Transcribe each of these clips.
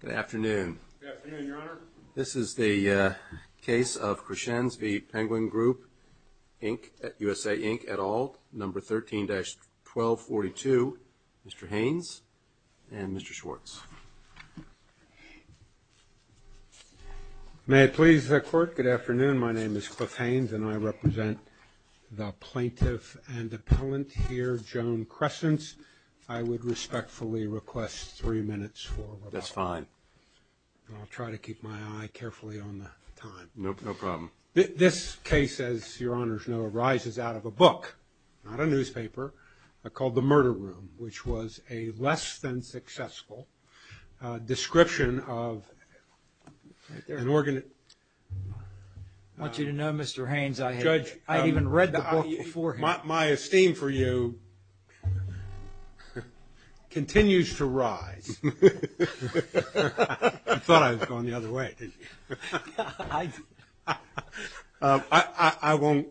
Good afternoon. This is the case of Crescenz v. Penguin Group Inc. at USA Inc. et al. number 13-1242. Mr. Haynes and Mr. Schwartz. May it please the court. Good afternoon. My name is Cliff Haynes and I represent the plaintiff and That's fine. I'll try to keep my eye carefully on the time. No problem. This case, as your honors know, arises out of a book, not a newspaper, called The Murder Room, which was a less than successful description of an organ. I want you to know, Mr. Haynes, I had even read the book before. My esteem for you continues to rise. I thought I was going the other way. I won't.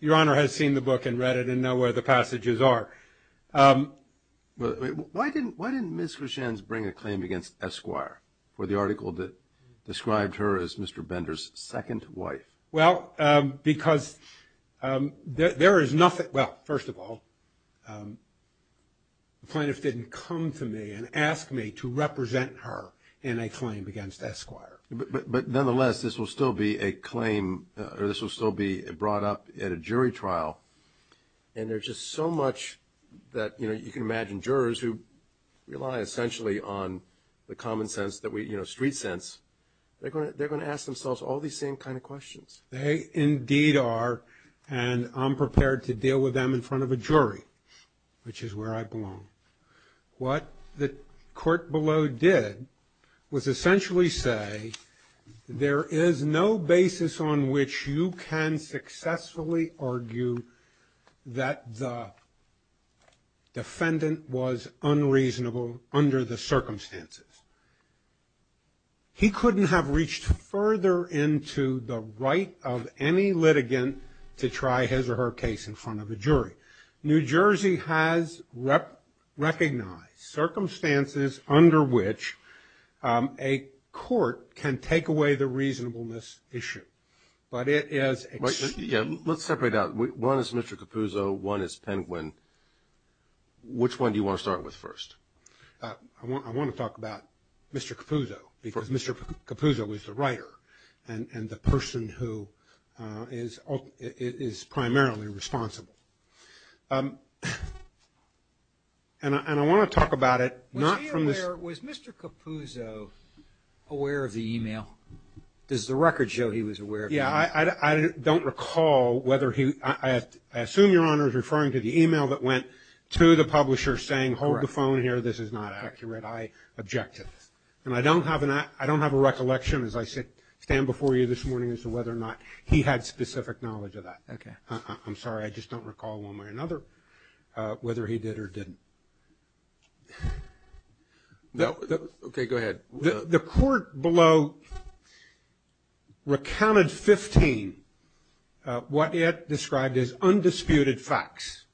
Your honor has seen the book and read it and know where the passages are. Why didn't Ms. Crescenz bring a claim against Esquire for the article that described her as Mr. Bender's second wife? Well, because there is nothing, well, first of all, the plaintiff didn't come to me and ask me to represent her in a claim against Esquire. But nonetheless, this will still be a claim or this will still be brought up at a jury trial and there's just so much that, you know, you can imagine jurors who rely essentially on the common sense that we, you know, street sense, they're going to ask themselves all these same kind of questions. They indeed are and I'm prepared to deal with them in front of a jury, which is where I belong. What the court below did was essentially say there is no basis on which you can successfully argue that the defendant was unreasonable under the circumstances. He couldn't have reached further into the right of any litigant to try his or her case in front of a jury. New Jersey has recognized circumstances under which a court can take away the reasonableness issue, but it is... Yeah, let's separate out. One is Mr. Capuzzo, one is Penguin. Which one do you want to start with first? I want to talk about Mr. Capuzzo because Mr. Capuzzo is the writer and the person who is primarily responsible. And I want to talk about it not from this... Was Mr. Capuzzo aware of the email? Does the record show he was aware of the email? I don't recall whether he... I assume Your Honor is referring to the email that went to the publisher saying, hold the phone here, this is not accurate. I object to this. And I don't have a recollection as I stand before you this morning as to whether or not he had specific knowledge of that. I'm sorry, I just don't recall one way or another whether he did or didn't. Okay, go ahead. The court below recounted 15 what it described as undisputed facts.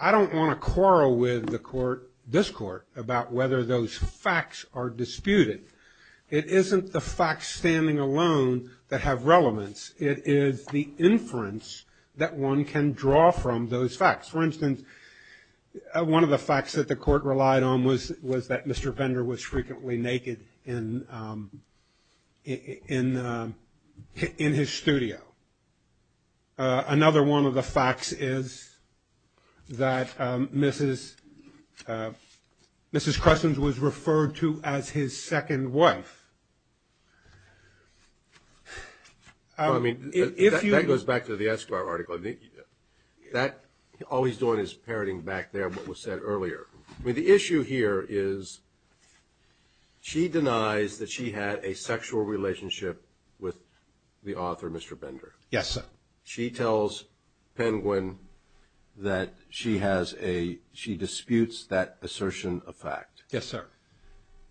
I don't want to quarrel with the court, this court, about whether those facts are disputed. It isn't the facts standing alone that have relevance. It is the inference that one can draw from those facts. For instance, one of the facts that the court relied on was that Mr. Bender was frequently naked in his studio. Another one of the facts is that Mrs. Cressens was referred to as his second wife. Well, I mean, that goes back to the Esquire article. All he's doing is parroting back there what was said earlier. I mean, the issue here is she denies that she had a sexual relationship with the author, Mr. Bender. Yes, sir. She tells Penguin that she has a – she disputes that assertion of fact. Yes, sir.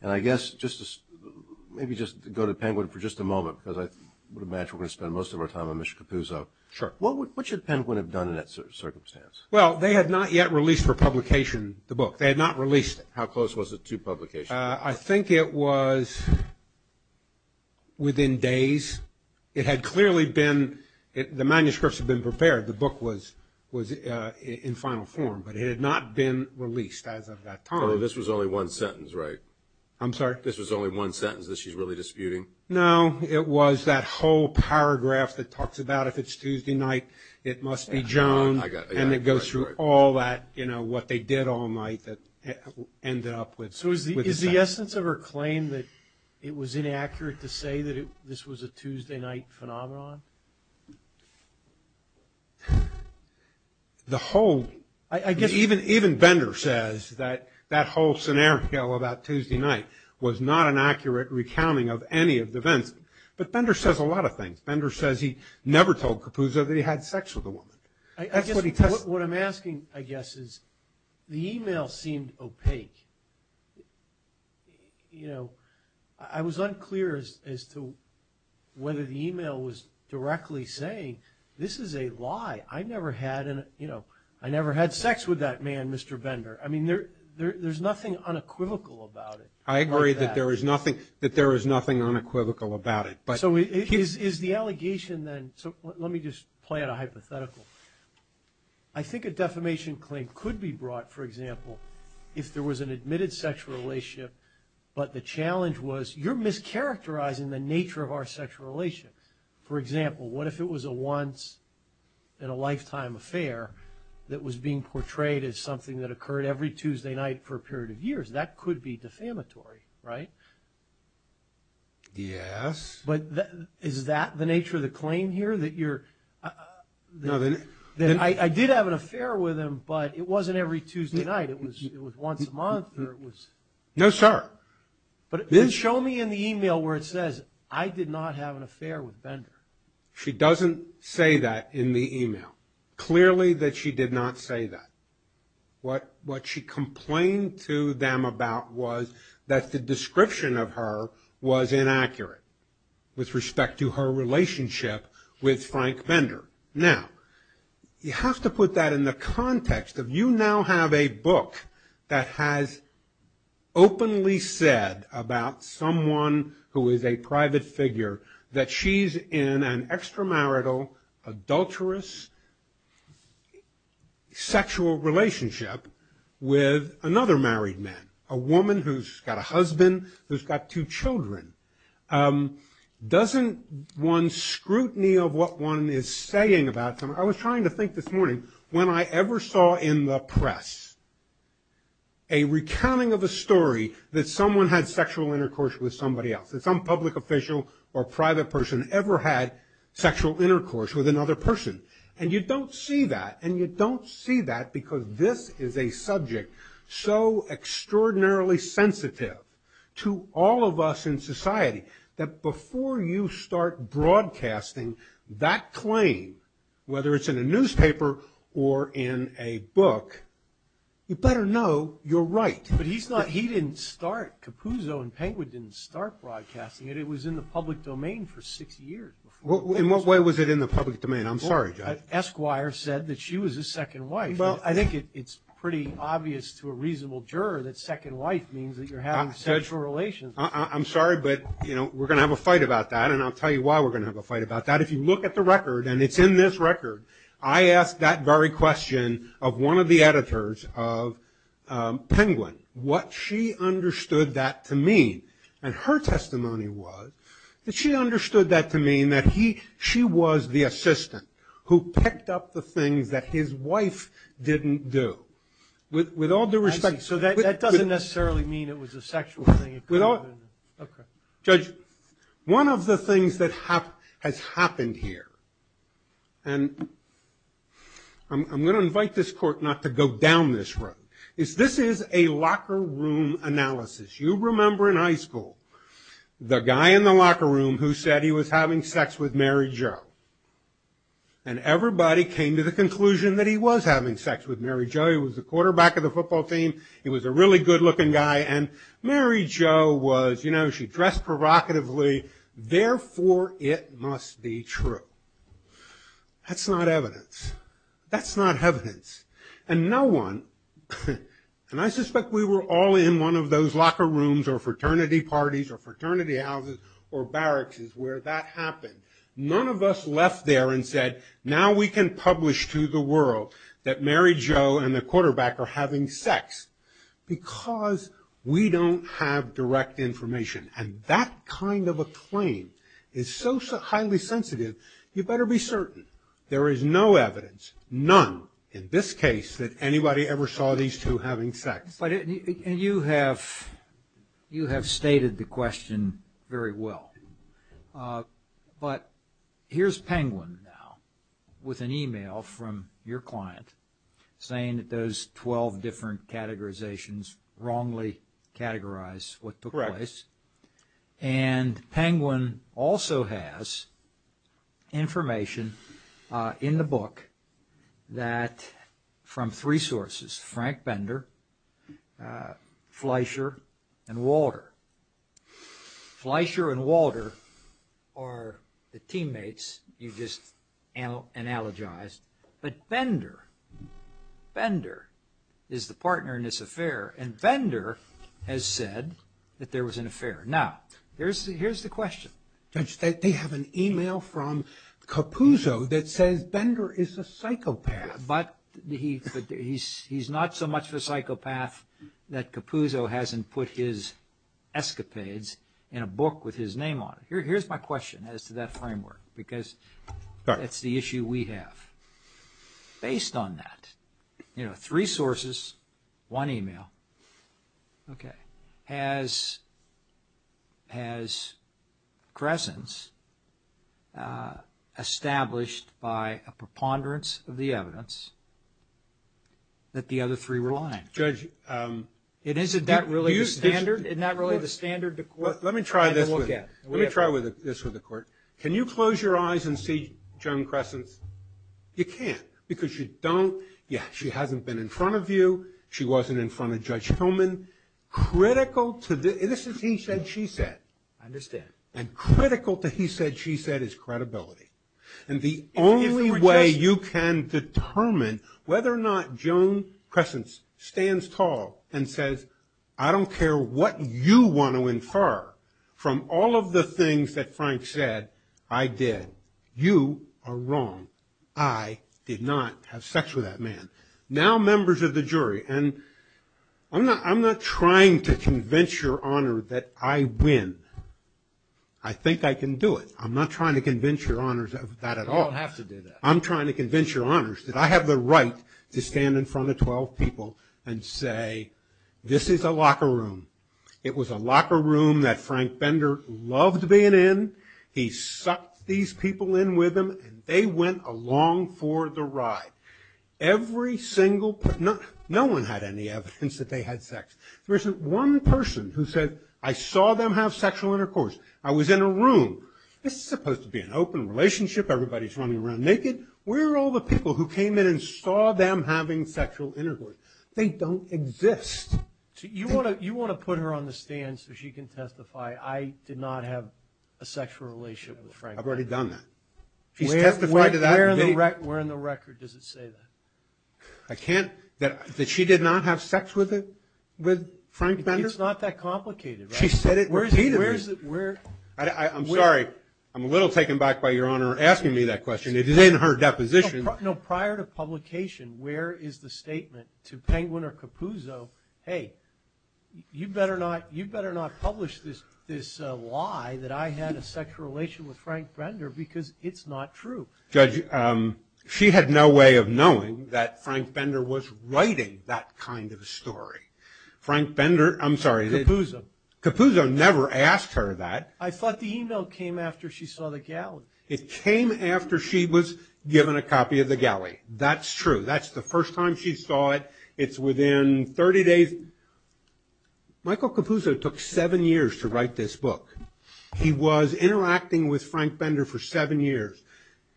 And I guess just to – maybe just to go to Penguin for just a moment, because I would imagine we're going to spend most of our time on Mr. Capuzzo. Sure. What should Penguin have done in that circumstance? Well, they had not yet released for publication the book. They had not released it. How close was it to publication? I think it was within days. It had clearly been – the manuscripts had been prepared. The book was in final form. But it had not been released as of that time. So this was only one sentence, right? I'm sorry? This was only one sentence that she's really disputing? No, it was that whole paragraph that talks about if it's Tuesday night, it must be through all that – you know, what they did all night that ended up with the sex. So is the essence of her claim that it was inaccurate to say that this was a Tuesday night phenomenon? The whole – I guess – Even Bender says that that whole scenario about Tuesday night was not an accurate recounting of any of the events. But Bender says a lot of things. Bender says he never told Capuzzo that he had sex with a woman. That's what he – I guess what I'm asking, I guess, is the email seemed opaque. You know, I was unclear as to whether the email was directly saying, this is a lie. I never had – you know, I never had sex with that man, Mr. Bender. I mean, there's nothing unequivocal about it like that. I agree that there is nothing unequivocal about it. So is the allegation then – so let me just play out a hypothetical. I think a defamation claim could be brought, for example, if there was an admitted sexual relationship, but the challenge was you're mischaracterizing the nature of our sexual relationship. For example, what if it was a once-in-a-lifetime affair that was being portrayed as something that occurred every Tuesday night for a period of years? That could be defamatory, right? Yes. But is that the nature of the claim here, that you're – that I did have an affair with him, but it wasn't every Tuesday night. It was once a month, or it was – No, sir. Then show me in the email where it says, I did not have an affair with Bender. She doesn't say that in the email. Clearly that she did not say that. What she complained to them about was that the description of her was inaccurate with respect to her relationship with Frank Bender. Now, you have to put that in the context of you now have a book that has openly said about someone who is a private figure that she's in an extramarital, adulterous sexual relationship with another married man, a woman who's got a husband who's got two children. Doesn't one's scrutiny of what one is saying about – I was trying to think this morning, when I ever saw in the press a recounting of a story that someone had sexual intercourse with somebody else, that some public official or private person had ever had sexual intercourse with another person. And you don't see that, and you don't see that because this is a subject so extraordinarily sensitive to all of us in society that before you start broadcasting that claim, whether it's in a newspaper or in a book, you better know you're right. But he's not – he didn't start – Capuzzo and Penguin didn't start broadcasting it. It was in the public domain for six years before – Well, in what way was it in the public domain? I'm sorry, Josh. Esquire said that she was his second wife. Well, I think it's pretty obvious to a reasonable juror that second wife means that you're having sexual relations. I'm sorry, but, you know, we're going to have a fight about that, and I'll tell you why we're going to have a fight about that. If you look at the record, and it's in this record, I asked that very question of one of the editors of Penguin, what she understood that to mean, and her testimony was that she understood that to mean that she was the assistant who picked up the things that his wife didn't do. With all due respect – I see. So that doesn't necessarily mean it was a sexual thing. Okay. Judge, one of the things that has happened here – and I'm going to invite this Court not to go down this road – is this is a locker room analysis. You remember in high school the guy in the locker room who said he was having sex with Mary Jo, and everybody came to the conclusion that he was having sex with Mary Jo. He was the quarterback of the football team. He was a really good-looking guy, and Mary Jo was – you know, she dressed provocatively. Therefore, it must be true. That's not evidence. That's not evidence. And no one – and I suspect we were all in one of those locker rooms or fraternity parties or fraternity houses or barracks where that happened. None of us left there and said, now we can publish to the world that Mary Jo and the quarterback are having sex, because we don't have direct information. And that kind of a claim is so highly sensitive, you better be certain there is no evidence, none in this case, that anybody ever saw these two having sex. But – and you have – you have stated the question very well. But here's Penguin now with an email from your client saying that those 12 different categorizations wrongly categorize what took place. And Penguin also has information in the book that – from three sources – Frank Bender, Fleischer, and Walter. Fleischer and Walter are the teammates you just analogized. But Bender – Bender is the partner in this affair, and Bender has said that there was an affair. Now, here's the question. Judge, they have an email from Capuzzo that says Bender is a psychopath. But he's not so much of a psychopath that Capuzzo hasn't put his escapades in a book with his name on it. Here's my question as to that framework, because that's the issue we have. Based on that, you know, three sources, one email. Okay. Has – has Cressence established by a preponderance of the evidence that the other three were lying? Judge – And isn't that really the standard? Isn't that really the standard the court – Let me try this with – let me try this with the court. Can you close your eyes and see Joan Cressence? You can't, because you don't – yeah, she hasn't been in front of you. She wasn't in front of Judge Hillman. Critical to the – this is he said, she said. I understand. And critical to he said, she said is credibility. And the only way you can determine whether or not Joan Cressence stands tall and says, I don't care what you want to infer from all of the things that Frank said, I did. You are wrong. I did not have sex with that jury. And I'm not – I'm not trying to convince your honor that I win. I think I can do it. I'm not trying to convince your honors of that at all. You don't have to do that. I'm trying to convince your honors that I have the right to stand in front of 12 people and say, this is a locker room. It was a locker room that Frank Bender loved being in. He sucked these people in with him, and they went along for the ride. Every single – not one had any evidence that they had sex. There isn't one person who said, I saw them have sexual intercourse. I was in a room. This is supposed to be an open relationship. Everybody's running around naked. Where are all the people who came in and saw them having sexual intercourse? They don't exist. You want to put her on the stand so she can testify, I did not have a sexual relationship with Frank Bender. I've already done that. She's testified to that. Where in the record does it say that? I can't – that she did not have sex with Frank Bender? It's not that complicated. She said it repeatedly. I'm sorry. I'm a little taken back by your honor asking me that question. It is in her deposition. No, prior to publication, where is the statement to Penguin or Capuzzo, hey, you better not publish this lie that I had a sexual relation with Frank Bender because it's not true. Judge, she had no way of knowing that Frank Bender was writing that kind of story. Frank Bender – I'm sorry. Capuzzo. Capuzzo never asked her that. I thought the email came after she saw the galley. It came after she was given a copy of the galley. That's true. That's the first time she saw it. It's within 30 days. Michael Capuzzo took seven years to write this book. He was interacting with Frank Bender for seven years.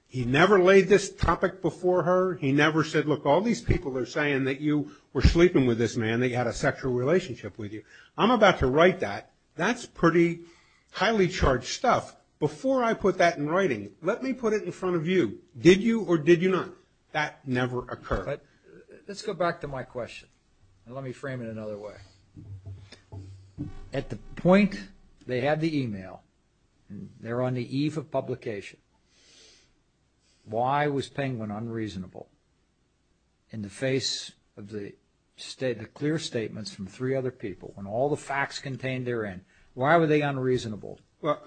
He never laid this topic before her. He never said, look, all these people are saying that you were sleeping with this man, that you had a sexual relationship with him. I'm about to write that. That's pretty highly charged stuff. Before I put that in writing, let me put it in front of you. Did you or did you not? That never occurred. Let's go back to my question. Let me frame it another way. At the point they had the email, they're on the eve of publication, why was Penguin unreasonable in the face of the clear statements from three other people when all the facts contained therein? Why were they unreasonable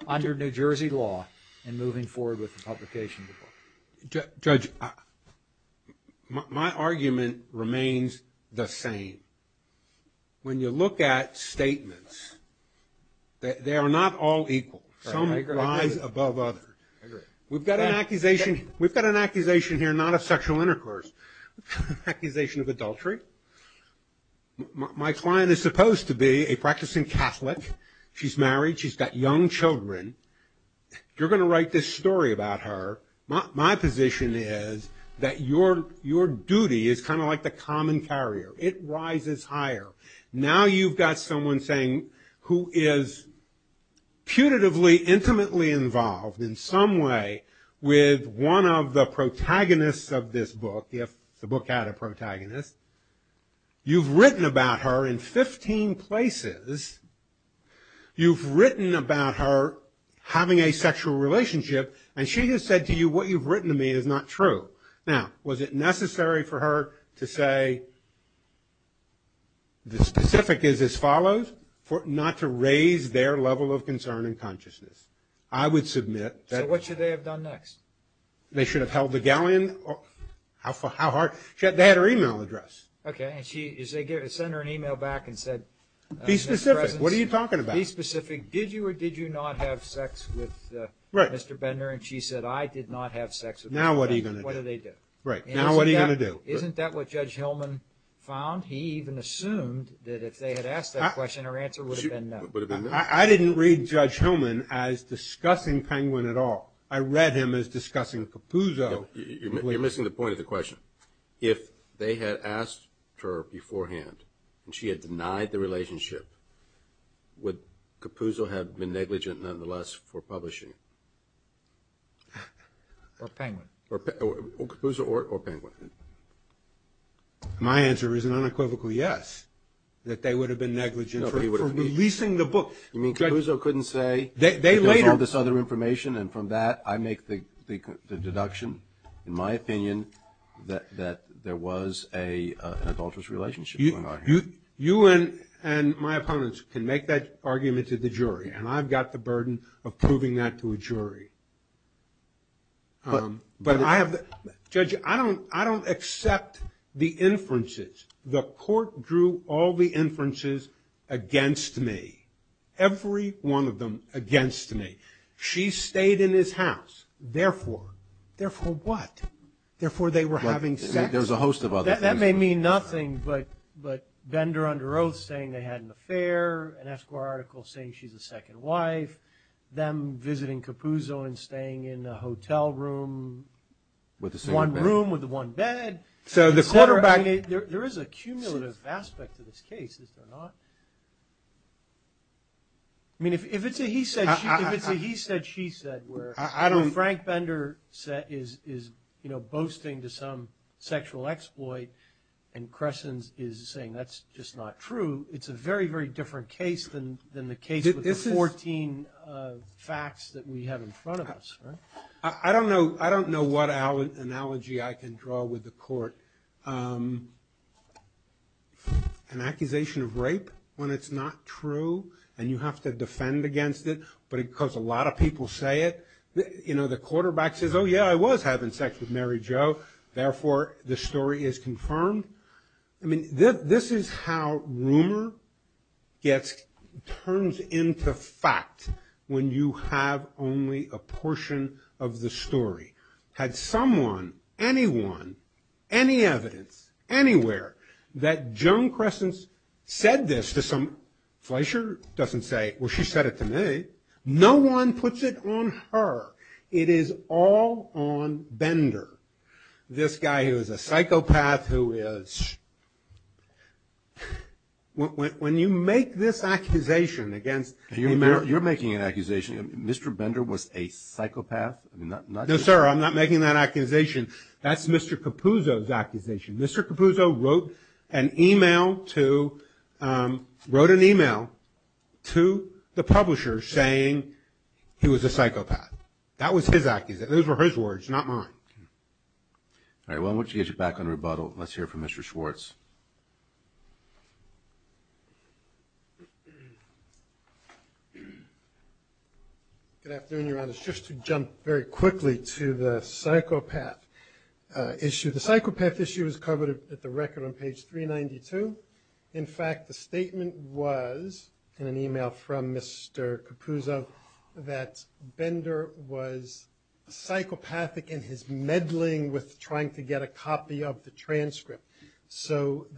under New Jersey law and moving forward with the publication of the book? Judge, my argument remains the same. When you look at statements, they are not all equal. Some rise above others. We've got an accusation here not of sexual intercourse, accusation of adultery. My client is supposed to be a practicing Catholic. She's married. She's got young children. You're going to write this story about her. My position is that your duty is kind of like the common carrier. It rises higher. Now you've got someone saying who is putatively, intimately involved in some way with one of the protagonists of this book, if the book had a protagonist. You've written about her in 15 places. You've written about her having a sexual relationship, and she has said to you what you've written to me is not true. Now, was it necessary for her to say the specific is as follows, not to raise their level of concern and consciousness? I would submit that... So what should they have done next? They should have held the galleon. They had her email address. Okay, and they sent her an email back and said... Be specific. What are you talking about? Be specific. Did you or did you not have sex with Mr. Bender? And she said, I did not have sex with Mr. Bender. Now what are you going to do? What do they do? Now what are you going to do? Isn't that what Judge Hillman found? He even assumed that if they had asked that question, her answer would have been no. I didn't read Judge Hillman as discussing Penguin at all. I read him as discussing Capuzzo. You're missing the point of the question. If they had asked her beforehand, and she had denied the relationship, would Capuzzo have been negligent nonetheless for publishing? Or Penguin. Capuzzo or Penguin. My answer is an unequivocal yes, that they would have been negligent for releasing the book. You mean Capuzzo couldn't say... They later... ...that there was all this other information, and from that I make the deduction, in my opinion, that there was an adulterous relationship going on here. You and my opponents can make that argument to the jury, and I've got the burden of proving that to a jury. But I have... Judge, I don't accept the inferences. The court drew all the inferences against me. Every one of them against me. She stayed in his house, therefore. Therefore what? Therefore they were having sex? There was a host of other things. That may mean nothing, but Bender under oath saying they had an affair, an Esquire article saying she's a second wife, them visiting Capuzzo and staying in a hotel room, one room with one bed. So the quarterback... There is a cumulative aspect to this case, is there not? I mean, if it's a he said she said where Frank Bender is boasting to some sexual exploit and Cressens is saying that's just not true, it's a very, very different case than the case with the 14 facts that we have in front of us. I don't know what analogy I can draw with the court. An accusation of rape when it's not true and you have to defend against it because a lot of people say it. You know, the quarterback says, oh, yeah, I was having sex with Mary Jo, therefore the story is confirmed. I mean, this is how rumor turns into fact when you have only a portion of the story. Had someone, anyone, any evidence, anywhere that Joan Cressens said this to some... Fleischer doesn't say, well, she said it to me. No one puts it on her. It is all on Bender, this guy who is a psychopath who is... When you make this accusation against... You're making an accusation. Mr. Bender was a psychopath? No, sir, I'm not making that accusation. That's Mr. Capuzzo's accusation. Mr. Capuzzo wrote an email to the publisher saying he was a psychopath. That was his accusation. Those were his words, not mine. All right, why don't we get you back on rebuttal. Let's hear from Mr. Schwartz. Good afternoon, Your Honors. Just to jump very quickly to the psychopath issue. The psychopath issue is covered at the record on page 392. In fact, the statement was, in an email from Mr. Capuzzo, that Bender was psychopathic in his meddling with trying to get a copy of the transcript. So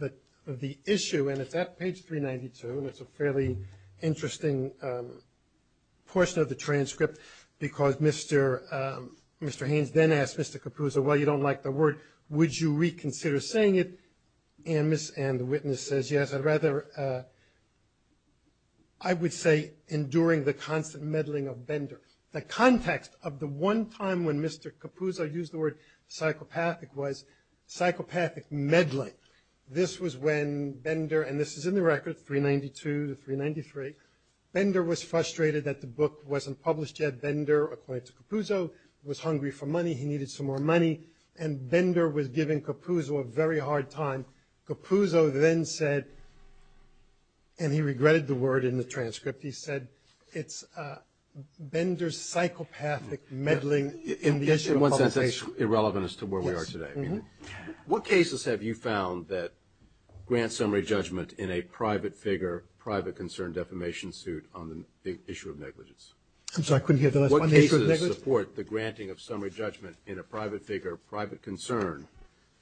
the issue, and it's at page 392, and it's a fairly interesting portion of the transcript, because Mr. Haynes then asked Mr. Capuzzo, well, you don't like the word, would you reconsider saying it? And the witness says, yes, I'd rather... I would say enduring the constant meddling of Bender. The context of the one time when Mr. Capuzzo used the word psychopathic was psychopathic meddling. This was when Bender, and this is in the record, 392 to 393, Bender was frustrated that the book wasn't published yet. Bender, according to Capuzzo, was hungry for money, he needed some more money, and Bender was giving Capuzzo a very hard time. Capuzzo then said, and he regretted the word in the transcript, he said, it's Bender's psychopathic meddling in the issue of publication. In one sense, that's irrelevant as to where we are today. What cases have you found that grant summary judgment in a private figure, private concern defamation suit on the issue of negligence? I'm sorry, I couldn't hear the last one. Issue of negligence? What cases support the granting of summary judgment in a private figure, private concern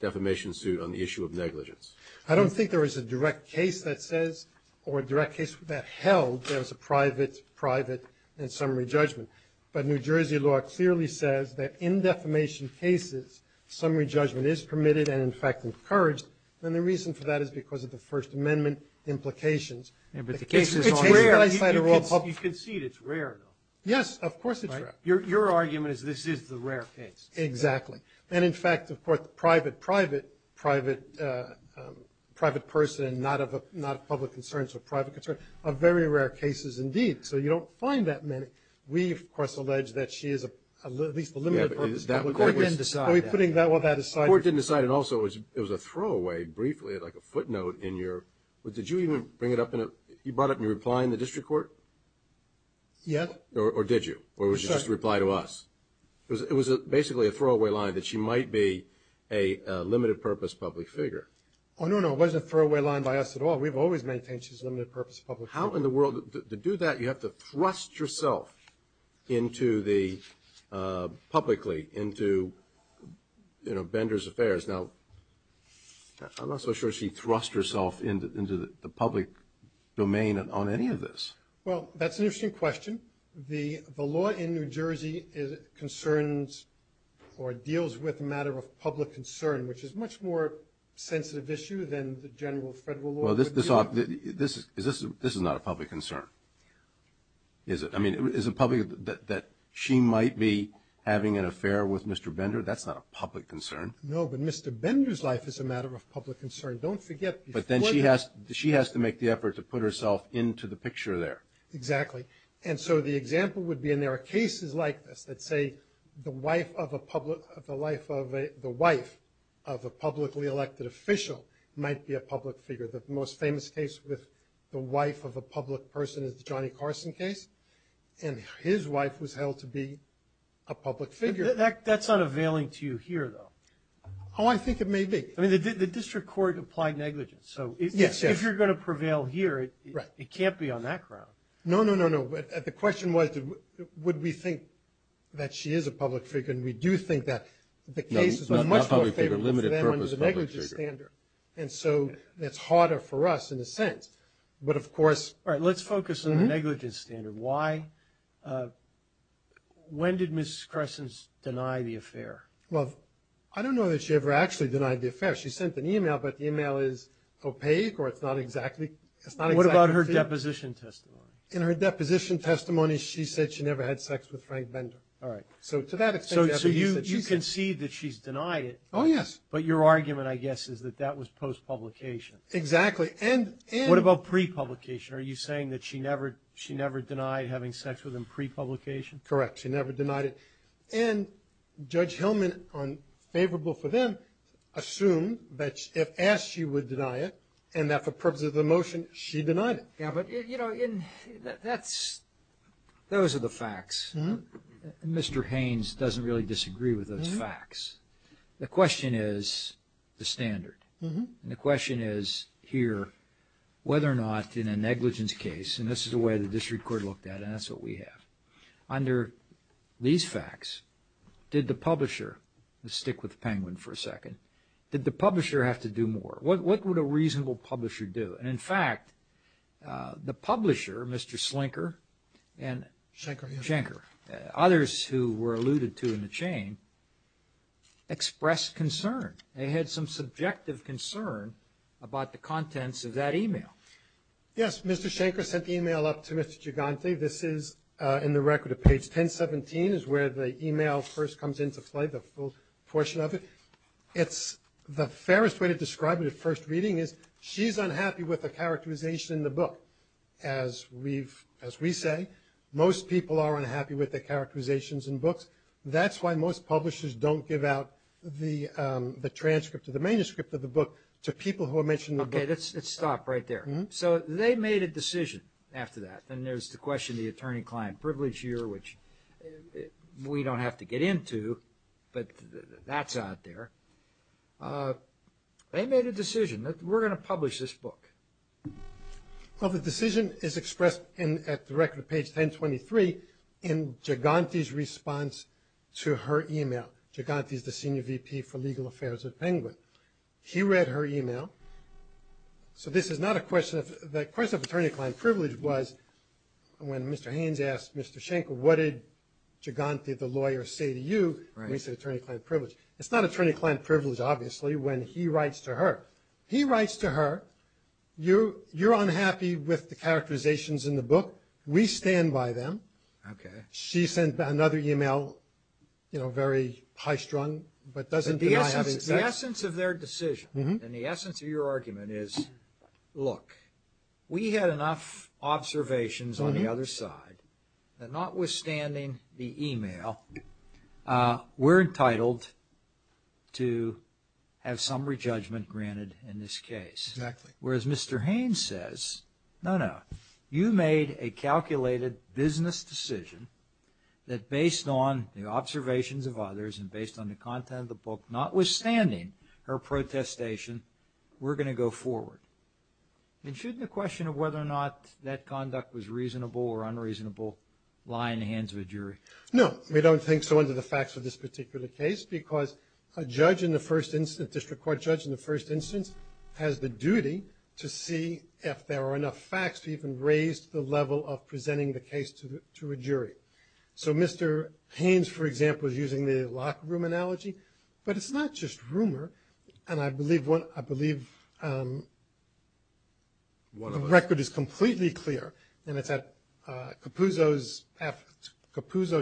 defamation suit on the issue of negligence? I don't think there is a direct case that says or a direct case that held there was a private, private and summary judgment. But New Jersey law clearly says that in defamation cases, summary judgment is permitted and, in fact, encouraged, and the reason for that is because of the First Amendment implications. It's rare. You concede it's rare, though. Yes, of course it's rare. Your argument is this is the rare case. Exactly. And, in fact, of course, the private, private, private person, not of public concerns or private concerns, are very rare cases indeed. So you don't find that many. We, of course, allege that she is at least a limited person. The court didn't decide that. Are we putting all that aside? The court didn't decide it. Also, it was a throwaway briefly, like a footnote in your – did you even bring it up in a – you brought it up in your reply in the district court? Yes. Or did you? Or was it just a reply to us? It was basically a throwaway line that she might be a limited-purpose public figure. Oh, no, no. It wasn't a throwaway line by us at all. We've always maintained she's a limited-purpose public figure. How in the world – to do that, you have to thrust yourself into the – publicly into, you know, Bender's affairs. Now, I'm not so sure she thrust herself into the public domain on any of this. Well, that's an interesting question. The law in New Jersey concerns or deals with a matter of public concern, which is a much more sensitive issue than the general federal law. Well, this is not a public concern, is it? I mean, is it public that she might be having an affair with Mr. Bender? That's not a public concern. No, but Mr. Bender's life is a matter of public concern. Don't forget before – But then she has to make the effort to put herself into the picture there. Exactly. And so the example would be, and there are cases like this that say the wife of a public – the wife of a publicly elected official might be a public figure. The most famous case with the wife of a public person is the Johnny Carson case, and his wife was held to be a public figure. That's not availing to you here, though. Oh, I think it may be. I mean, the district court applied negligence. So if you're going to prevail here, it can't be on that ground. No, no, no, no. The question was would we think that she is a public figure, and we do think that the case is much more favorable for them under the negligence standard. And so that's harder for us in a sense. But, of course – All right, let's focus on the negligence standard. Why – when did Mrs. Cresson deny the affair? Well, I don't know that she ever actually denied the affair. She sent an email, but the email is opaque or it's not exactly – What about her deposition testimony? In her deposition testimony, she said she never had sex with Frank Bender. All right. So to that extent – So you concede that she's denied it. Oh, yes. But your argument, I guess, is that that was post-publication. Exactly. And – What about pre-publication? Are you saying that she never denied having sex with him pre-publication? Correct. She never denied it. And Judge Hellman, on favorable for them, assumed that if asked, she would deny it, and that for purposes of the motion, she denied it. Yeah, but, you know, that's – those are the facts. Mr. Haynes doesn't really disagree with those facts. The question is the standard. And the question is here whether or not in a negligence case, and this is the way the district court looked at it, and that's what we have. Under these facts, did the publisher – let's stick with Penguin for a second. Did the publisher have to do more? What would a reasonable publisher do? And, in fact, the publisher, Mr. Slinker and – Schenker. Schenker. Others who were alluded to in the chain expressed concern. They had some subjective concern about the contents of that e-mail. Yes, Mr. Schenker sent the e-mail up to Mr. Gigante. This is in the record of page 1017 is where the e-mail first comes into play, the full portion of it. It's – the fairest way to describe it at first reading is she's unhappy with the characterization in the book. As we've – as we say, most people are unhappy with the characterizations in books. That's why most publishers don't give out the transcript or the manuscript of the book to people who are mentioned in the book. Okay. Let's stop right there. So they made a decision after that, and there's the question of the attorney-client privilege here, which we don't have to get into, but that's out there. They made a decision that we're going to publish this book. Well, the decision is expressed in – at the record of page 1023 in Gigante's response to her e-mail. Gigante is the senior VP for legal affairs at Penguin. He read her e-mail. So this is not a question of – the question of attorney-client privilege was when Mr. Haynes asked Mr. Schenker, what did Gigante, the lawyer, say to you when he said attorney-client privilege. It's not attorney-client privilege, obviously, when he writes to her. He writes to her, you're unhappy with the characterizations in the book. We stand by them. Okay. She sent another e-mail, you know, very high-strung, but doesn't deny having sex. The essence of their decision and the essence of your argument is, look, we had enough observations on the other side that notwithstanding the e-mail, we're entitled to have summary judgment granted in this case. Exactly. Whereas Mr. Haynes says, no, no, you made a calculated business decision that based on the observations of others and based on the content of the book, notwithstanding her protestation, we're going to go forward. And shouldn't the question of whether or not that conduct was reasonable or unreasonable lie in the hands of a jury? No, we don't think so under the facts of this particular case, because a judge in the first instance, a district court judge in the first instance, has the duty to see if there are enough facts to even raise the level of presenting the case to a jury. So Mr. Haynes, for example, is using the locker room analogy. But it's not just rumor, and I believe the record is completely clear, and it's at Capuzzo's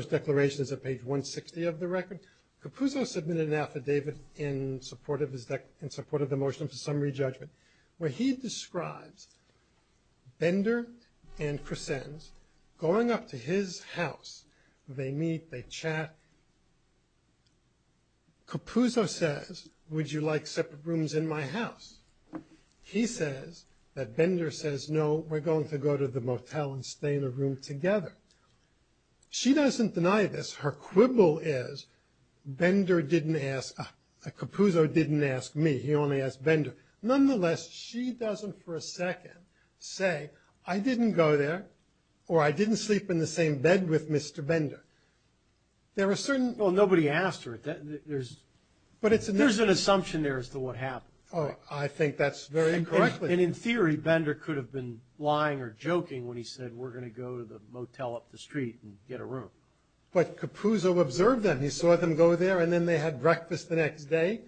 declaration. It's at page 160 of the record. Capuzzo submitted an affidavit in support of the motion for summary judgment where he describes Bender and Crescenz going up to his house. They meet, they chat. Capuzzo says, would you like separate rooms in my house? He says that Bender says, no, we're going to go to the motel and stay in a room together. She doesn't deny this. Her quibble is, Bender didn't ask, Capuzzo didn't ask me. He only asked Bender. Nonetheless, she doesn't for a second say, I didn't go there or I didn't sleep in the same bed with Mr. Bender. There are certain... Well, nobody asked her. There's an assumption there as to what happened. Oh, I think that's very incorrect. And in theory, Bender could have been lying or joking when he said we're going to go to the motel up the street and get a room. But Capuzzo observed them. He saw them go there, and then they had breakfast the next day.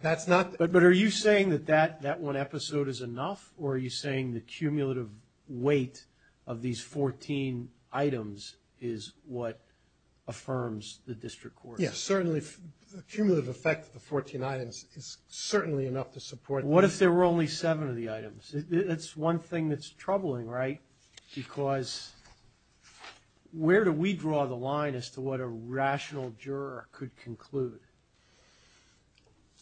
That's not... But are you saying that that one episode is enough, or are you saying the cumulative weight of these 14 items is what affirms the district court? Yes, certainly the cumulative effect of the 14 items is certainly enough to support... What if there were only seven of the items? That's one thing that's troubling, right? Because where do we draw the line as to what a rational juror could conclude?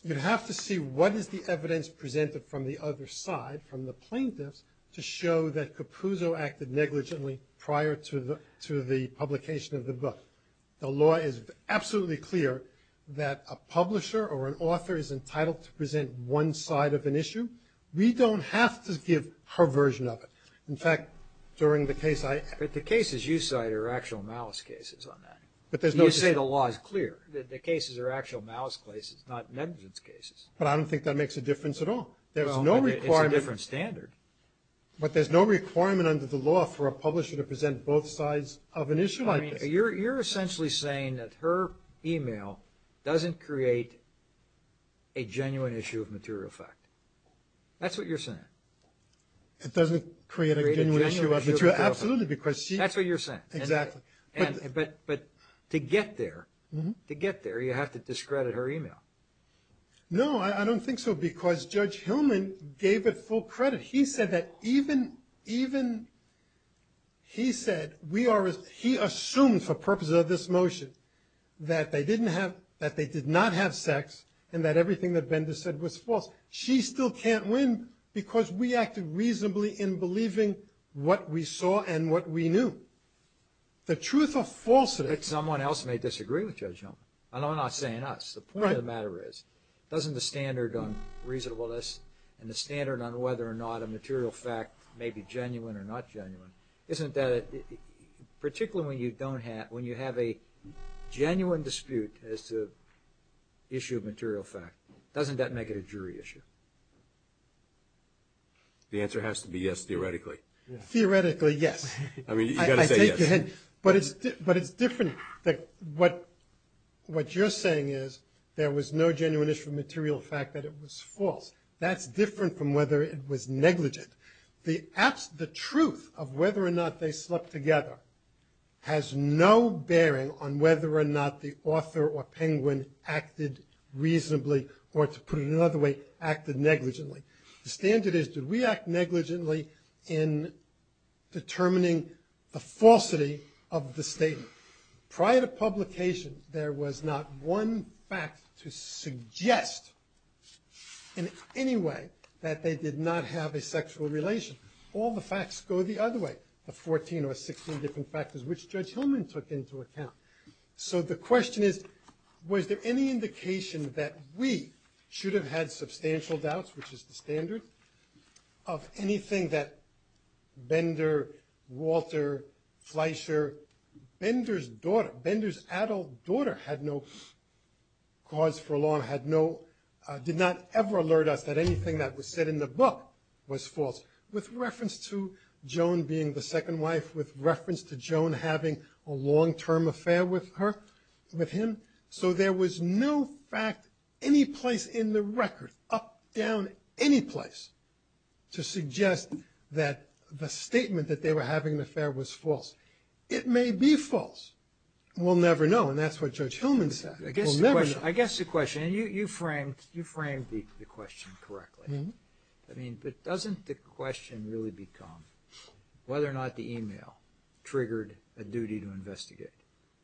You'd have to see what is the evidence presented from the other side, from the plaintiffs, to show that Capuzzo acted negligently prior to the publication of the book. The law is absolutely clear that a publisher or an author is entitled to present one side of an issue. We don't have to give her version of it. In fact, during the case I... But the cases you cite are actual malice cases on that. But there's no... You say the law is clear. The cases are actual malice cases, not negligence cases. But I don't think that makes a difference at all. There's no requirement... Well, it's a different standard. But there's no requirement under the law for a publisher to present both sides of an issue like this. You're essentially saying that her email doesn't create a genuine issue of material effect. That's what you're saying. It doesn't create a genuine issue of material effect. Absolutely, because she... That's what you're saying. Exactly. But to get there, you have to discredit her email. No, I don't think so, because Judge Hillman gave it full credit. But he said that even... He said we are... He assumed for purposes of this motion that they did not have sex and that everything that Bender said was false. She still can't win because we acted reasonably in believing what we saw and what we knew. The truth of falsehood... But someone else may disagree with Judge Hillman. And I'm not saying us. The point of the matter is, doesn't the standard on reasonableness and the standard on whether or not a material fact may be genuine or not genuine, isn't that... Particularly when you have a genuine dispute as to issue of material fact, doesn't that make it a jury issue? The answer has to be yes, theoretically. Theoretically, yes. I mean, you've got to say yes. But it's different. What you're saying is there was no genuine issue of material fact, that it was false. That's different from whether it was negligent. The truth of whether or not they slept together has no bearing on whether or not the author or Penguin acted reasonably or, to put it another way, acted negligently. The standard is, did we act negligently in determining the falsity of the statement? Prior to publication, there was not one fact to suggest in any way that they did not have a sexual relation. All the facts go the other way, the 14 or 16 different factors which Judge Hillman took into account. So the question is, was there any indication that we should have had substantial doubts, which is the standard, of anything that Bender, Walter, Fleischer, Bender's daughter, Bender's adult daughter had no cause for alarm, did not ever alert us that anything that was said in the book was false, with reference to Joan being the second wife, with reference to Joan having a long-term affair with him. So there was no fact any place in the record, up, down, any place, to suggest that the statement that they were having an affair was false. It may be false. We'll never know, and that's what Judge Hillman said. We'll never know. I guess the question, and you framed the question correctly. I mean, but doesn't the question really become whether or not the email triggered a duty to investigate?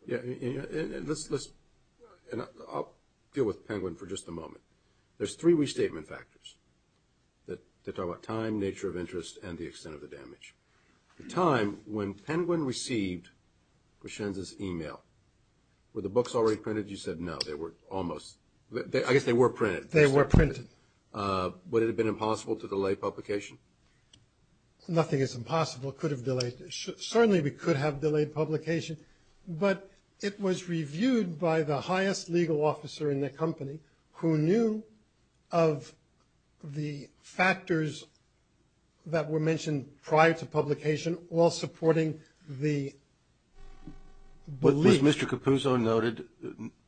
Yeah, and let's, I'll deal with Penguin for just a moment. There's three restatement factors that talk about time, nature of interest, and the extent of the damage. The time when Penguin received Grishenza's email, were the books already printed? You said no, they were almost. I guess they were printed. They were printed. Would it have been impossible to delay publication? Nothing is impossible. It could have delayed, certainly we could have delayed publication, but it was reviewed by the highest legal officer in the company who knew of the factors that were mentioned prior to publication, while supporting the belief. Was Mr. Capuzzo noted?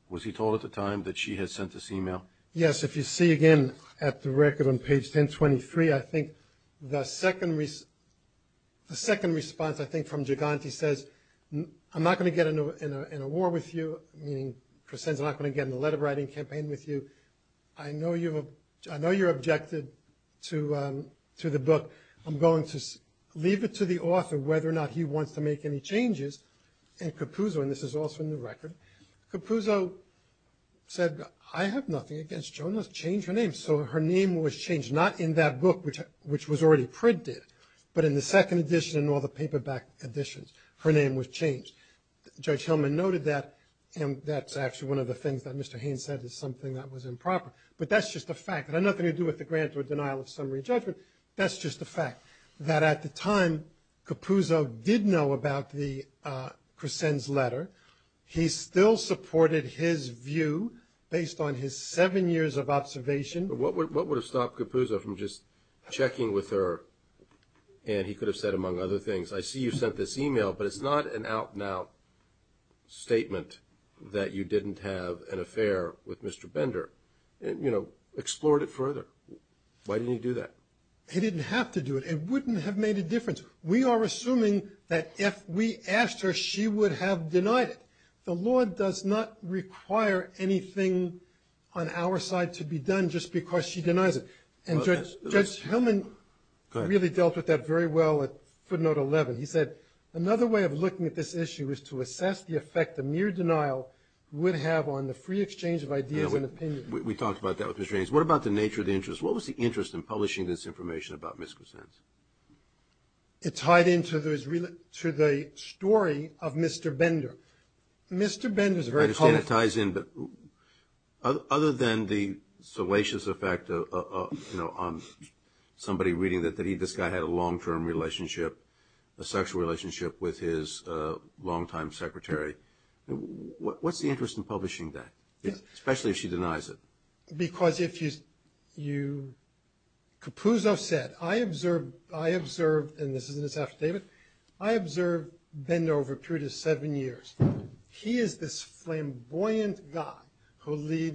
Was he told at the time that she had sent this email? Yes, if you see again at the record on page 1023, I think the second response, I think from Giganti says, I'm not going to get in a war with you, meaning Grishenza's not going to get in a letter writing campaign with you. I know you're objected to the book. I'm going to leave it to the author whether or not he wants to make any changes. And Capuzzo, and this is also in the record, Capuzzo said, I have nothing against Jonas. Change her name. So her name was changed, not in that book, which was already printed, but in the second edition and all the paperback editions, her name was changed. Judge Hillman noted that, and that's actually one of the things that Mr. Haynes said is something that was improper. But that's just a fact. It had nothing to do with the grant or denial of summary judgment. That's just a fact. That at the time, Capuzzo did know about the Crescenz letter. He still supported his view based on his seven years of observation. What would have stopped Capuzzo from just checking with her? And he could have said, among other things, I see you've sent this email, but it's not an out-and-out statement that you didn't have an affair with Mr. Bender. Explored it further. Why didn't he do that? He didn't have to do it. It wouldn't have made a difference. We are assuming that if we asked her, she would have denied it. The law does not require anything on our side to be done just because she denies it. And Judge Hillman really dealt with that very well at footnote 11. He said, another way of looking at this issue is to assess the effect the mere denial would have on the free exchange of ideas and opinions. We talked about that with Mr. Haynes. What about the nature of the interest? What was the interest in publishing this information about Ms. Crescenz? It tied into the story of Mr. Bender. Mr. Bender's very... I understand it ties in, but other than the salacious effect of somebody reading that this guy had a long-term relationship, a sexual relationship with his long-time secretary. What's the interest in publishing that? Especially if she denies it. Because if you... Capuzzo said, I observed, and this is in his affidavit, I observed Bender over a period of seven years. He is this flamboyant guy a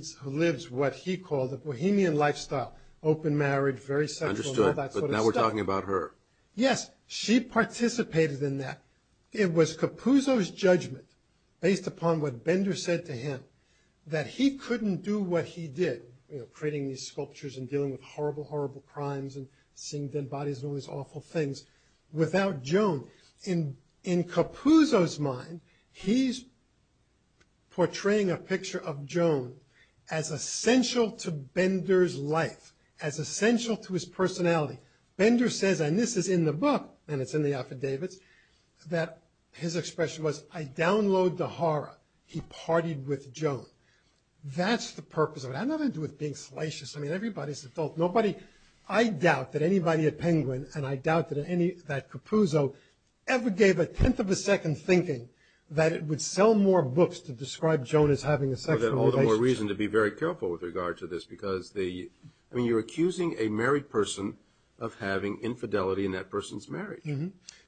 bohemian lifestyle. Open marriage, very sexual, and all that sort of stuff. Understood, and now we're talking about her. Yes, she participated in that. It was Capuzzo's judgment based upon what Bender said to him that he couldn't do what he did, creating these sculptures and dealing with horrible, horrible crimes and seeing dead bodies and all these awful things without Joan. In Capuzzo's mind, he's portraying a picture of Joan as essential to Bender's life, as essential to his personality. Bender says, and this is in the book, and it's in the affidavits, that his expression was, I download the horror. He partied with Joan. That's the purpose of it. I have nothing to do with being salacious. I mean, everybody's an adult. Nobody... I doubt that anybody at Penguin and I doubt that Capuzzo ever gave a tenth of a second thinking that it would sell more books to describe Joan as having a sexual relationship. Or more reason to be very careful with regard to this because the... of having infidelity in that person's marriage.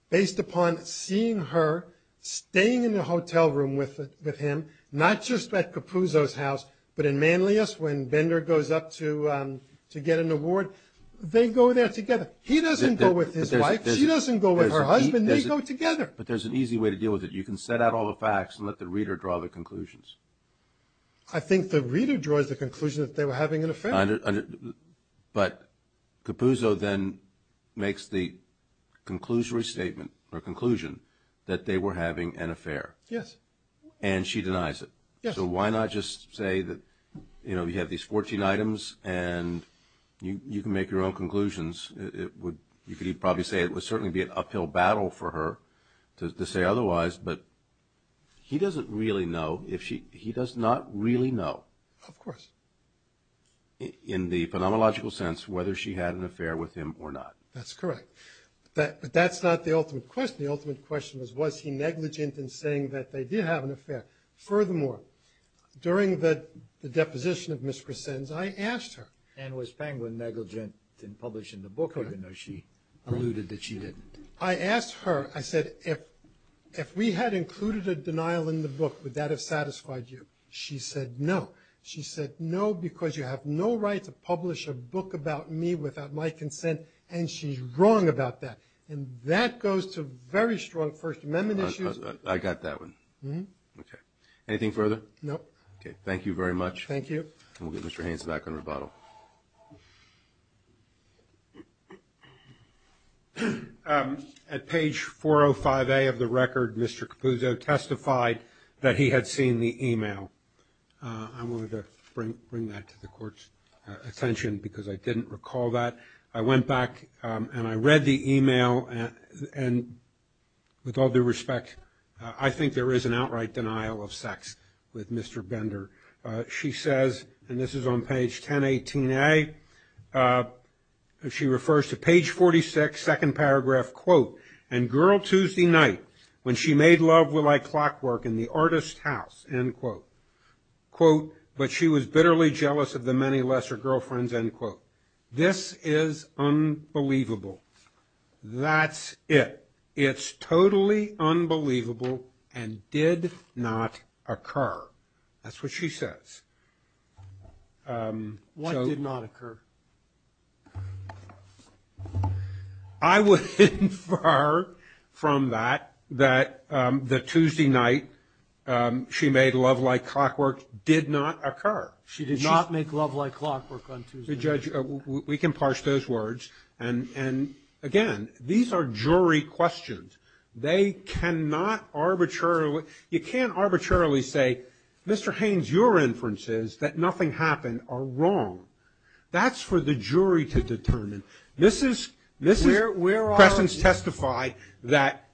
Based upon seeing her staying in the hotel room with him, not just at Capuzzo's house, but in Manlius when Bender goes up to get an award, they go there together. He doesn't go with his wife. She doesn't go with her husband. They go together. But there's an easy way to deal with it. You can set out all the facts and let the reader draw the conclusions. I think the reader draws the conclusion that they were having an affair. But Capuzzo then makes the conclusory statement or conclusion that they were having an affair. Yes. And she denies it. So why not just say that you have these 14 items and you can make your own conclusions. You could probably say it would certainly be an uphill battle for her to say otherwise, but he doesn't really know. He does not really know. Of course. In the phenomenological sense, whether she had an affair with him or not. That's correct. But that's not the ultimate question. The ultimate question was was he negligent in saying that they did have an affair. Furthermore, during the deposition of Miss Crescenz, I asked her. And was Penguin negligent in publishing the book, even though she alluded that she didn't. I asked her, I said, if we had included a denial in the book, would that have satisfied you? She said no. She said no because you have no right to publish a book about me without my consent. And she's wrong about that. And that goes to very strong First Amendment issues. I got that one. Okay. Anything further? No. Okay. Thank you very much. Thank you. We'll get Mr. Haynes back on rebuttal. At page 405A of the record, Mr. Capuzzo testified that he had seen the email. I wanted to bring that to the court's attention because I didn't recall that. I went back and I read the email. And with all due respect, I think there is an outright denial of sex with Mr. Bender. She says, and this is on page 1018A, she refers to page 46, second paragraph, quote, and girl Tuesday night when she made love with my clockwork in the artist's house, end quote. Quote, but she was bitterly jealous of the many lesser girlfriends, end quote. This is unbelievable. That's it. It's totally unbelievable and did not occur. That's what she says. What did not occur? I would infer from that that the Tuesday night she made love like clockwork did not occur. She did not make love like clockwork on Tuesday night. We can parse those words. And again, these are jury questions. They cannot arbitrarily, you can't arbitrarily say, Mr. Haynes, your inference is that nothing happened or wrong. That's for the jury to determine. Mrs. Crescens testified that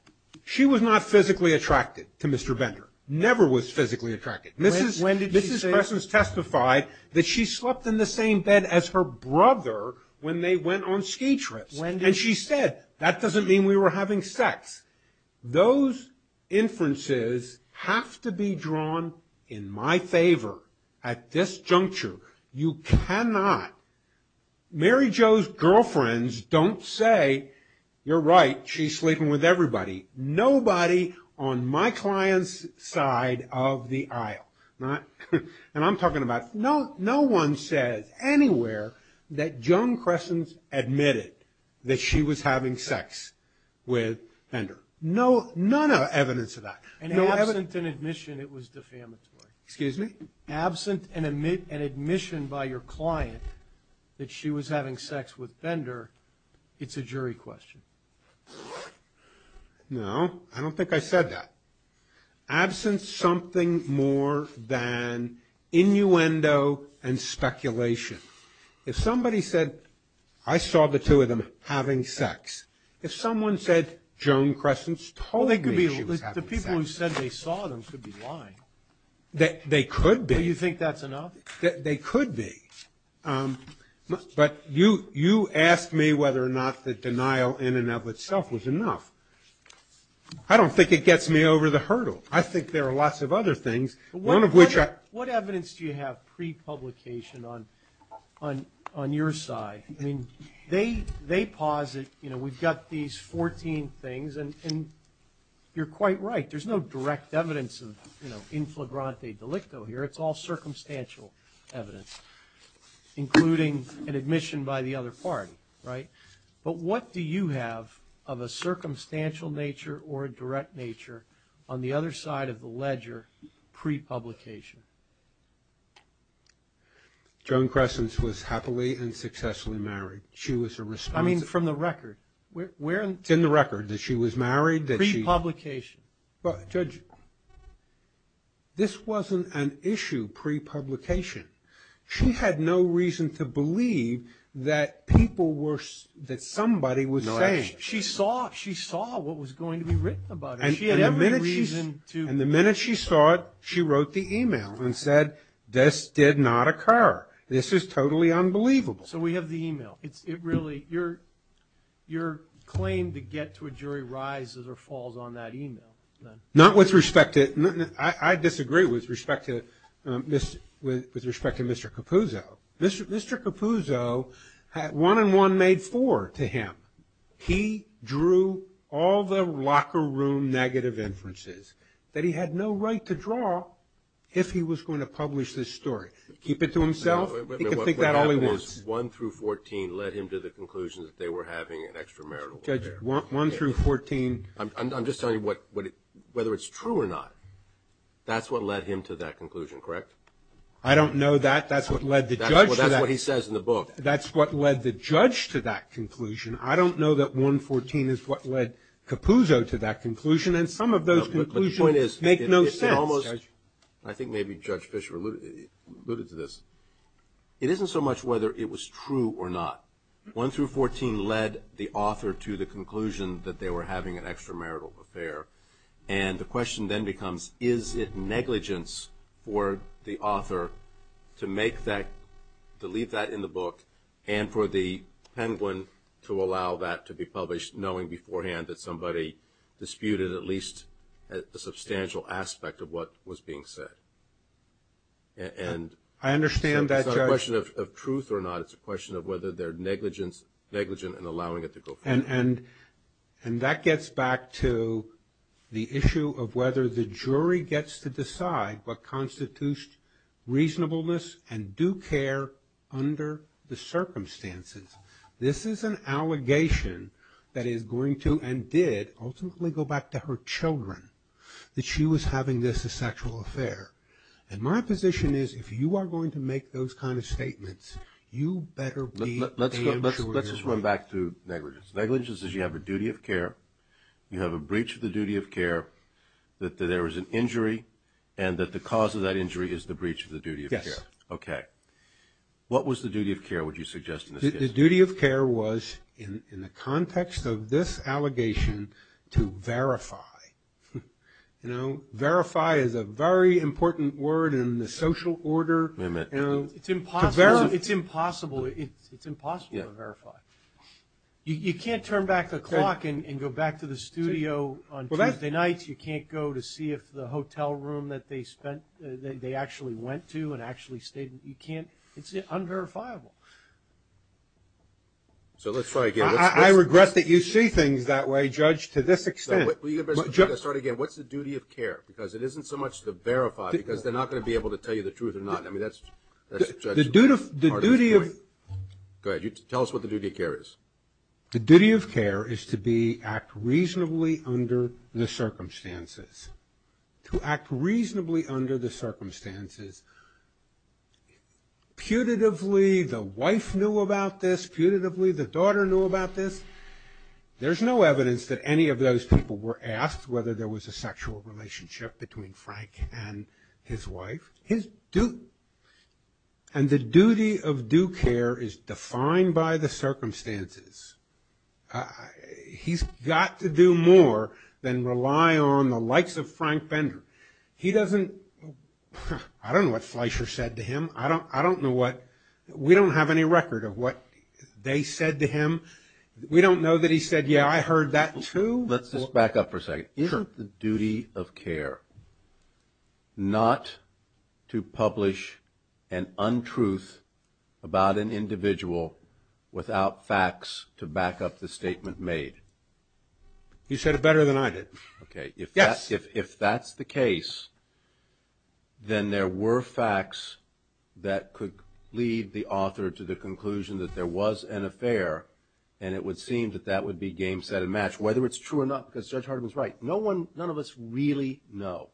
she was not physically attracted to Mr. Bender. Never was physically attracted. Mrs. Crescens testified that she slept in the same bed as her brother when they went on ski trips. And she said, that doesn't mean we were having sex. Those inferences have to be drawn in my favor at this juncture. You cannot. Mary Jo's girlfriends don't say, you're right, she's sleeping with everybody. Nobody on my client's side of the aisle. And I'm talking about, no one says anywhere that Joan Crescens admitted that she was having sex with Bender. None of evidence of that. And absent an admission, it was defamatory. Absent an admission by your client that she was having sex with Bender, it's a jury question. No, I don't think I said that. Absent something more than innuendo and speculation. If somebody said, I saw the two of them having sex. If someone said, Joan Crescens told me she was having sex. The people who said they saw them could be lying. They could be. So you think that's enough? They could be. But you asked me whether or not the denial in and of itself was enough. I don't think it gets me over the hurdle. I think there are lots of other things. What evidence do you have pre-publication on your side? They posit, we've got these 14 things and you're quite right. There's no direct evidence of inflagrante delicto here. It's all circumstantial evidence. Including an admission by the other party. But what do you have of a circumstantial nature or a direct nature on the other side of the ledger pre-publication? Joan Crescens was happily and successfully married. She was a responsible... I mean from the record. It's in the record that she was married. Pre-publication. Judge, this wasn't an issue pre-publication. She had no reason to believe that people were... that somebody was saying... She saw what was going to be written about it. She had every reason to... And the minute she saw it, she wrote the email and said, this did not occur. This is totally unbelievable. So we have the email. It really... Your claim to get to a jury rises or falls on that email. Not with respect to... I disagree with respect to Mr. Capuzzo. Mr. Capuzzo one and one made four to him. He drew all the locker room negative inferences that he had no right to draw if he was going to publish this story. Keep it to himself. He can think that all he wants. One through fourteen led him to the conclusion that they were having an extramarital affair. Judge, one through fourteen... I'm just telling you what... whether it's true or not, that's what led him to that conclusion, correct? I don't know that. That's what led the judge to that... That's what he says in the book. That's what led the judge to that conclusion. I don't know that one fourteen is what led Capuzzo to that conclusion. And some of those conclusions make no sense. I think maybe Judge Fischer alluded to this. It isn't so much whether it was true or not. One through fourteen led the author to the conclusion that they were having an extramarital affair. And the question then becomes is it negligence for the author to make that... to leave that in the book and for the Penguin to allow that to be published knowing beforehand that somebody disputed at least a substantial aspect of what was being said. And... It's not a question of truth or not. It's a question of whether they're negligent in allowing it to go forward. And that gets back to the issue of whether the jury gets to decide what constitutes reasonableness and due care under the circumstances. This is an allegation that is going to, and did, ultimately go back to her children that she was having this as a sexual affair. And my position is if you are going to make those kind of statements you better be paying children's rights. Let's just run back to negligence. Negligence is you have a duty of care, you have a breach of the duty of care, that there was an injury, and that the cause of that injury is the breach of the duty of care. Yes. Okay. What was the duty of care would you suggest in this case? The duty of care was in the context of this allegation to verify. You know, verify is a very important word in the social order. It's impossible. It's impossible to verify. You can't turn back the clock and go back to the studio on Tuesday nights. You can't go to see if the hotel room that they actually went to and actually stayed in. It's unverifiable. So let's try again. I regret that you see things that way, Judge, to this extent. Let's start again. What's the duty of care? Because it isn't so much to verify, because they're not going to be able to tell you the truth or not. I mean, that's part of the point. The duty of... Go ahead. Tell us what the duty of care is. The duty of care is to act reasonably under the circumstances. To act reasonably under the circumstances putatively, the wife knew about this, putatively the daughter knew about this. There's no evidence that any of those people were asked whether there was a sexual relationship between Frank and his wife. His... And the duty of due care is defined by the circumstances. He's got to do more than rely on the likes of Frank Bender. He doesn't... I don't know what Fleischer said to him. I don't know what... We don't have any record of what they said to him. We don't know that he said, yeah, I heard that too. Let's just back up for a second. Isn't the duty of care not to publish an untruth about an individual without facts to back up the statement made? You said it better than I did. Okay. Yes. If that's the case, then there were facts that could lead the author to the conclusion that there was an affair and it would seem that that would be game, set, and match, whether it's true or not, because Judge Hardiman's right. None of us really know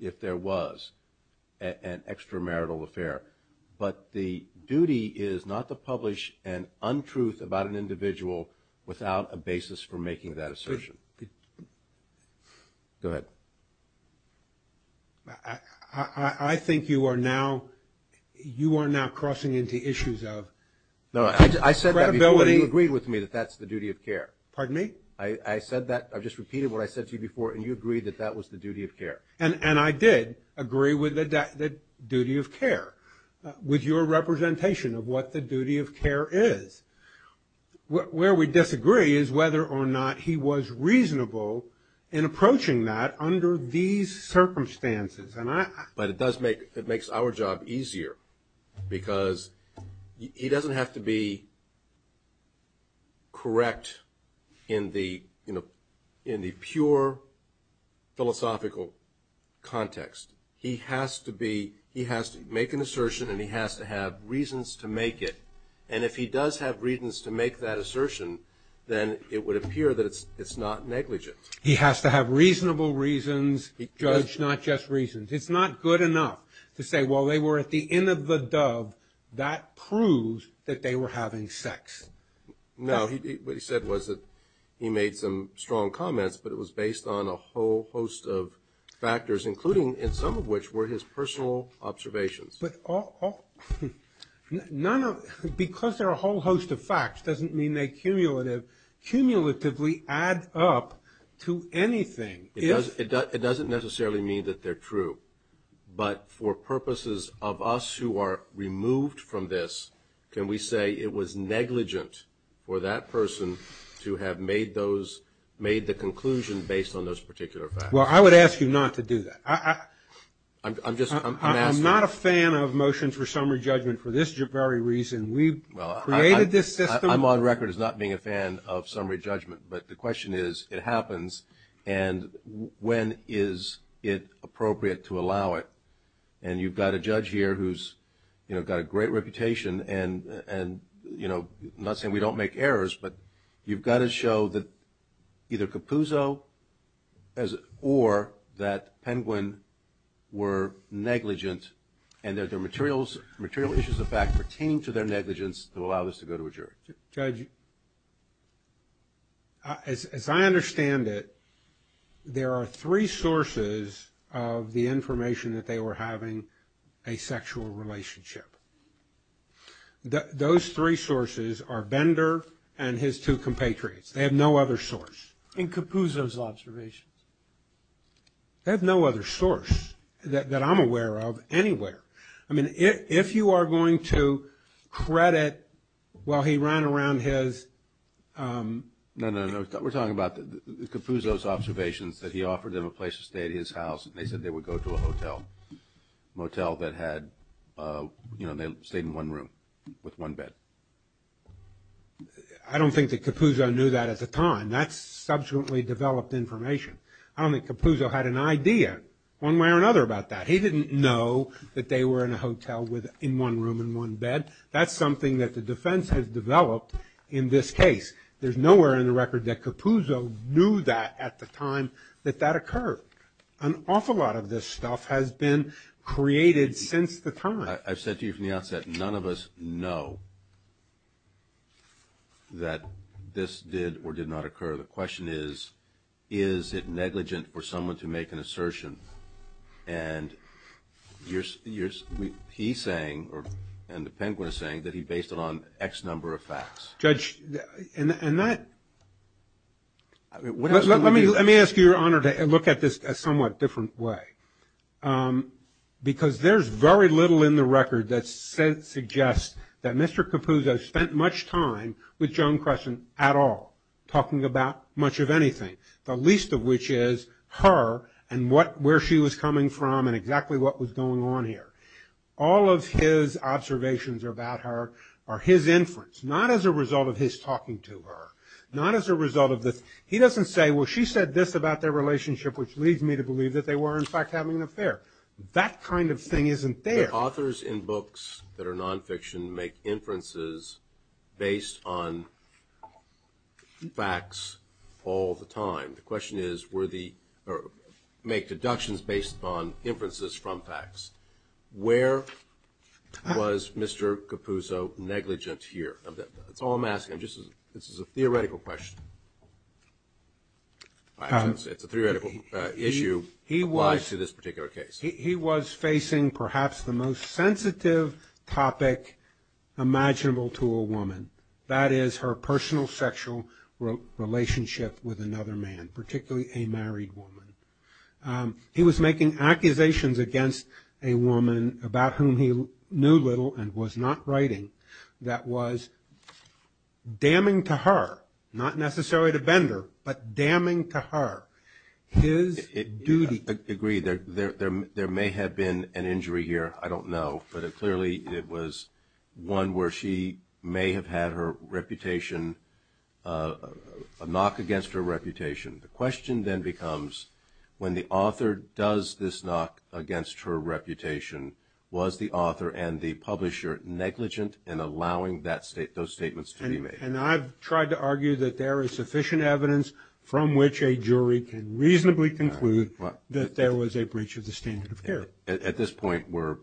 if there was an extramarital affair, but the duty is not to publish an untruth about an individual without a basis for making that assertion. Go ahead. I think you are now crossing into issues of credibility. No, I said that before. You agreed with me that that's the duty of care. Pardon me? I said that. I just repeated what I said to you before, and you agreed that that was the duty of care. And I did agree with the duty of care, with your representation of what the duty of care is. Where we disagree is whether or not he was reasonable in approaching that under these circumstances. But it does make, it makes our job easier, because he doesn't have to be correct in the pure philosophical context. He has to be, he has to make an assertion, and he has to have reasons to make it. And if he does have reasons to make that assertion, then it would appear that it's not negligent. He has to have reasonable reasons, judge, not just reasons. It's not good enough to say, well, they were at the inn of the dove. That proves that they were having sex. No, what he said was that he made some strong comments, but it was based on a whole host of factors, including, and some of which were his personal observations. But all, none of, because they're a whole host of facts doesn't mean they cumulatively add up to anything. It doesn't necessarily mean that they're true, but for purposes of us who are removed from this, can we say it was negligent for that person to have made those, made the conclusion based on those particular factors? Well, I would ask you not to do that. I'm just, I'm asking. I'm not a fan of motions for summary judgment for this very reason. We created this system. I'm on record as not being a fan of summary judgment. But the question is, it happens and when is it appropriate to allow it? And you've got a judge here who's, you know, got a great reputation and, you know, I'm not saying we don't make errors, but you've got to show that either Capuzzo or that Penguin were negligent and that their material issues of fact pertaining to their negligence allow this to go to a jury. Judge, as I understand it, there are three sources of the information that they were having a sexual relationship. Those three sources are Bender and his two compatriots. They have no other source. And Capuzzo's observations. They have no other source that I'm aware of anywhere. I mean, if you are going to credit, well, he ran around his... No, no, no. We're talking about Capuzzo's observations that he offered them a place to stay at his house and they said they would go to a hotel. A motel that had, you know, they stayed in one room with one bed. I don't think that Capuzzo knew that at the time. That's subsequently developed information. I don't think Capuzzo had an idea one way or another about that. He didn't know that they were in a hotel in one room and one bed. That's something that the defense has developed in this case. There's nowhere in the record that Capuzzo knew that at the time that that occurred. An awful lot of this stuff has been created since the time. I've said to you from the outset, none of us know that this did or did not occur. The question is, is it negligent for someone to make an assertion? He's saying, and the Penguin is saying, that he based it on X number of facts. Let me ask you, Your Honor, to look at this a somewhat different way. Because there's very little in the record that suggests that Mr. Capuzzo spent much time with Joan Crescent at all. Talking about much of anything. The least of which is her and where she was coming from and exactly what was going on here. All of his observations about her are his inference. Not as a result of his talking to her. Not as a result of this. He doesn't say, well she said this about their relationship, which leads me to believe that they were in fact having an affair. That kind of thing isn't there. Authors in books that are nonfiction make inferences based on facts all the time. The question is, were the or make deductions based on inferences from facts. Where was Mr. Capuzzo negligent here? That's all I'm asking. This is a theoretical question. It's a theoretical issue He was facing perhaps the most sensitive topic imaginable to a woman. That is her personal sexual relationship with another man, particularly a married woman. He was making accusations against a woman about whom he knew little and was not writing that was damning to her, not necessarily to Bender, but damning to her his duty. Agreed. There may have been an injury here. I don't know. But clearly it was one where she may have had her reputation a knock against her reputation. The question then becomes when the author does this knock against her reputation was the author and the publisher negligent in allowing those statements to be made? And I've tried to argue that there is sufficient evidence from which a jury can reasonably conclude that there was a breach of the standard of care. At this point we're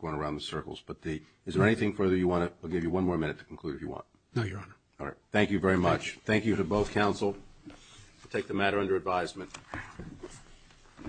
going around in circles, but is there anything further you want to, we'll give you one more minute to conclude if you want. No, Your Honor. All right. Thank you very much. Thank you to both counsel. Take the matter under advisement.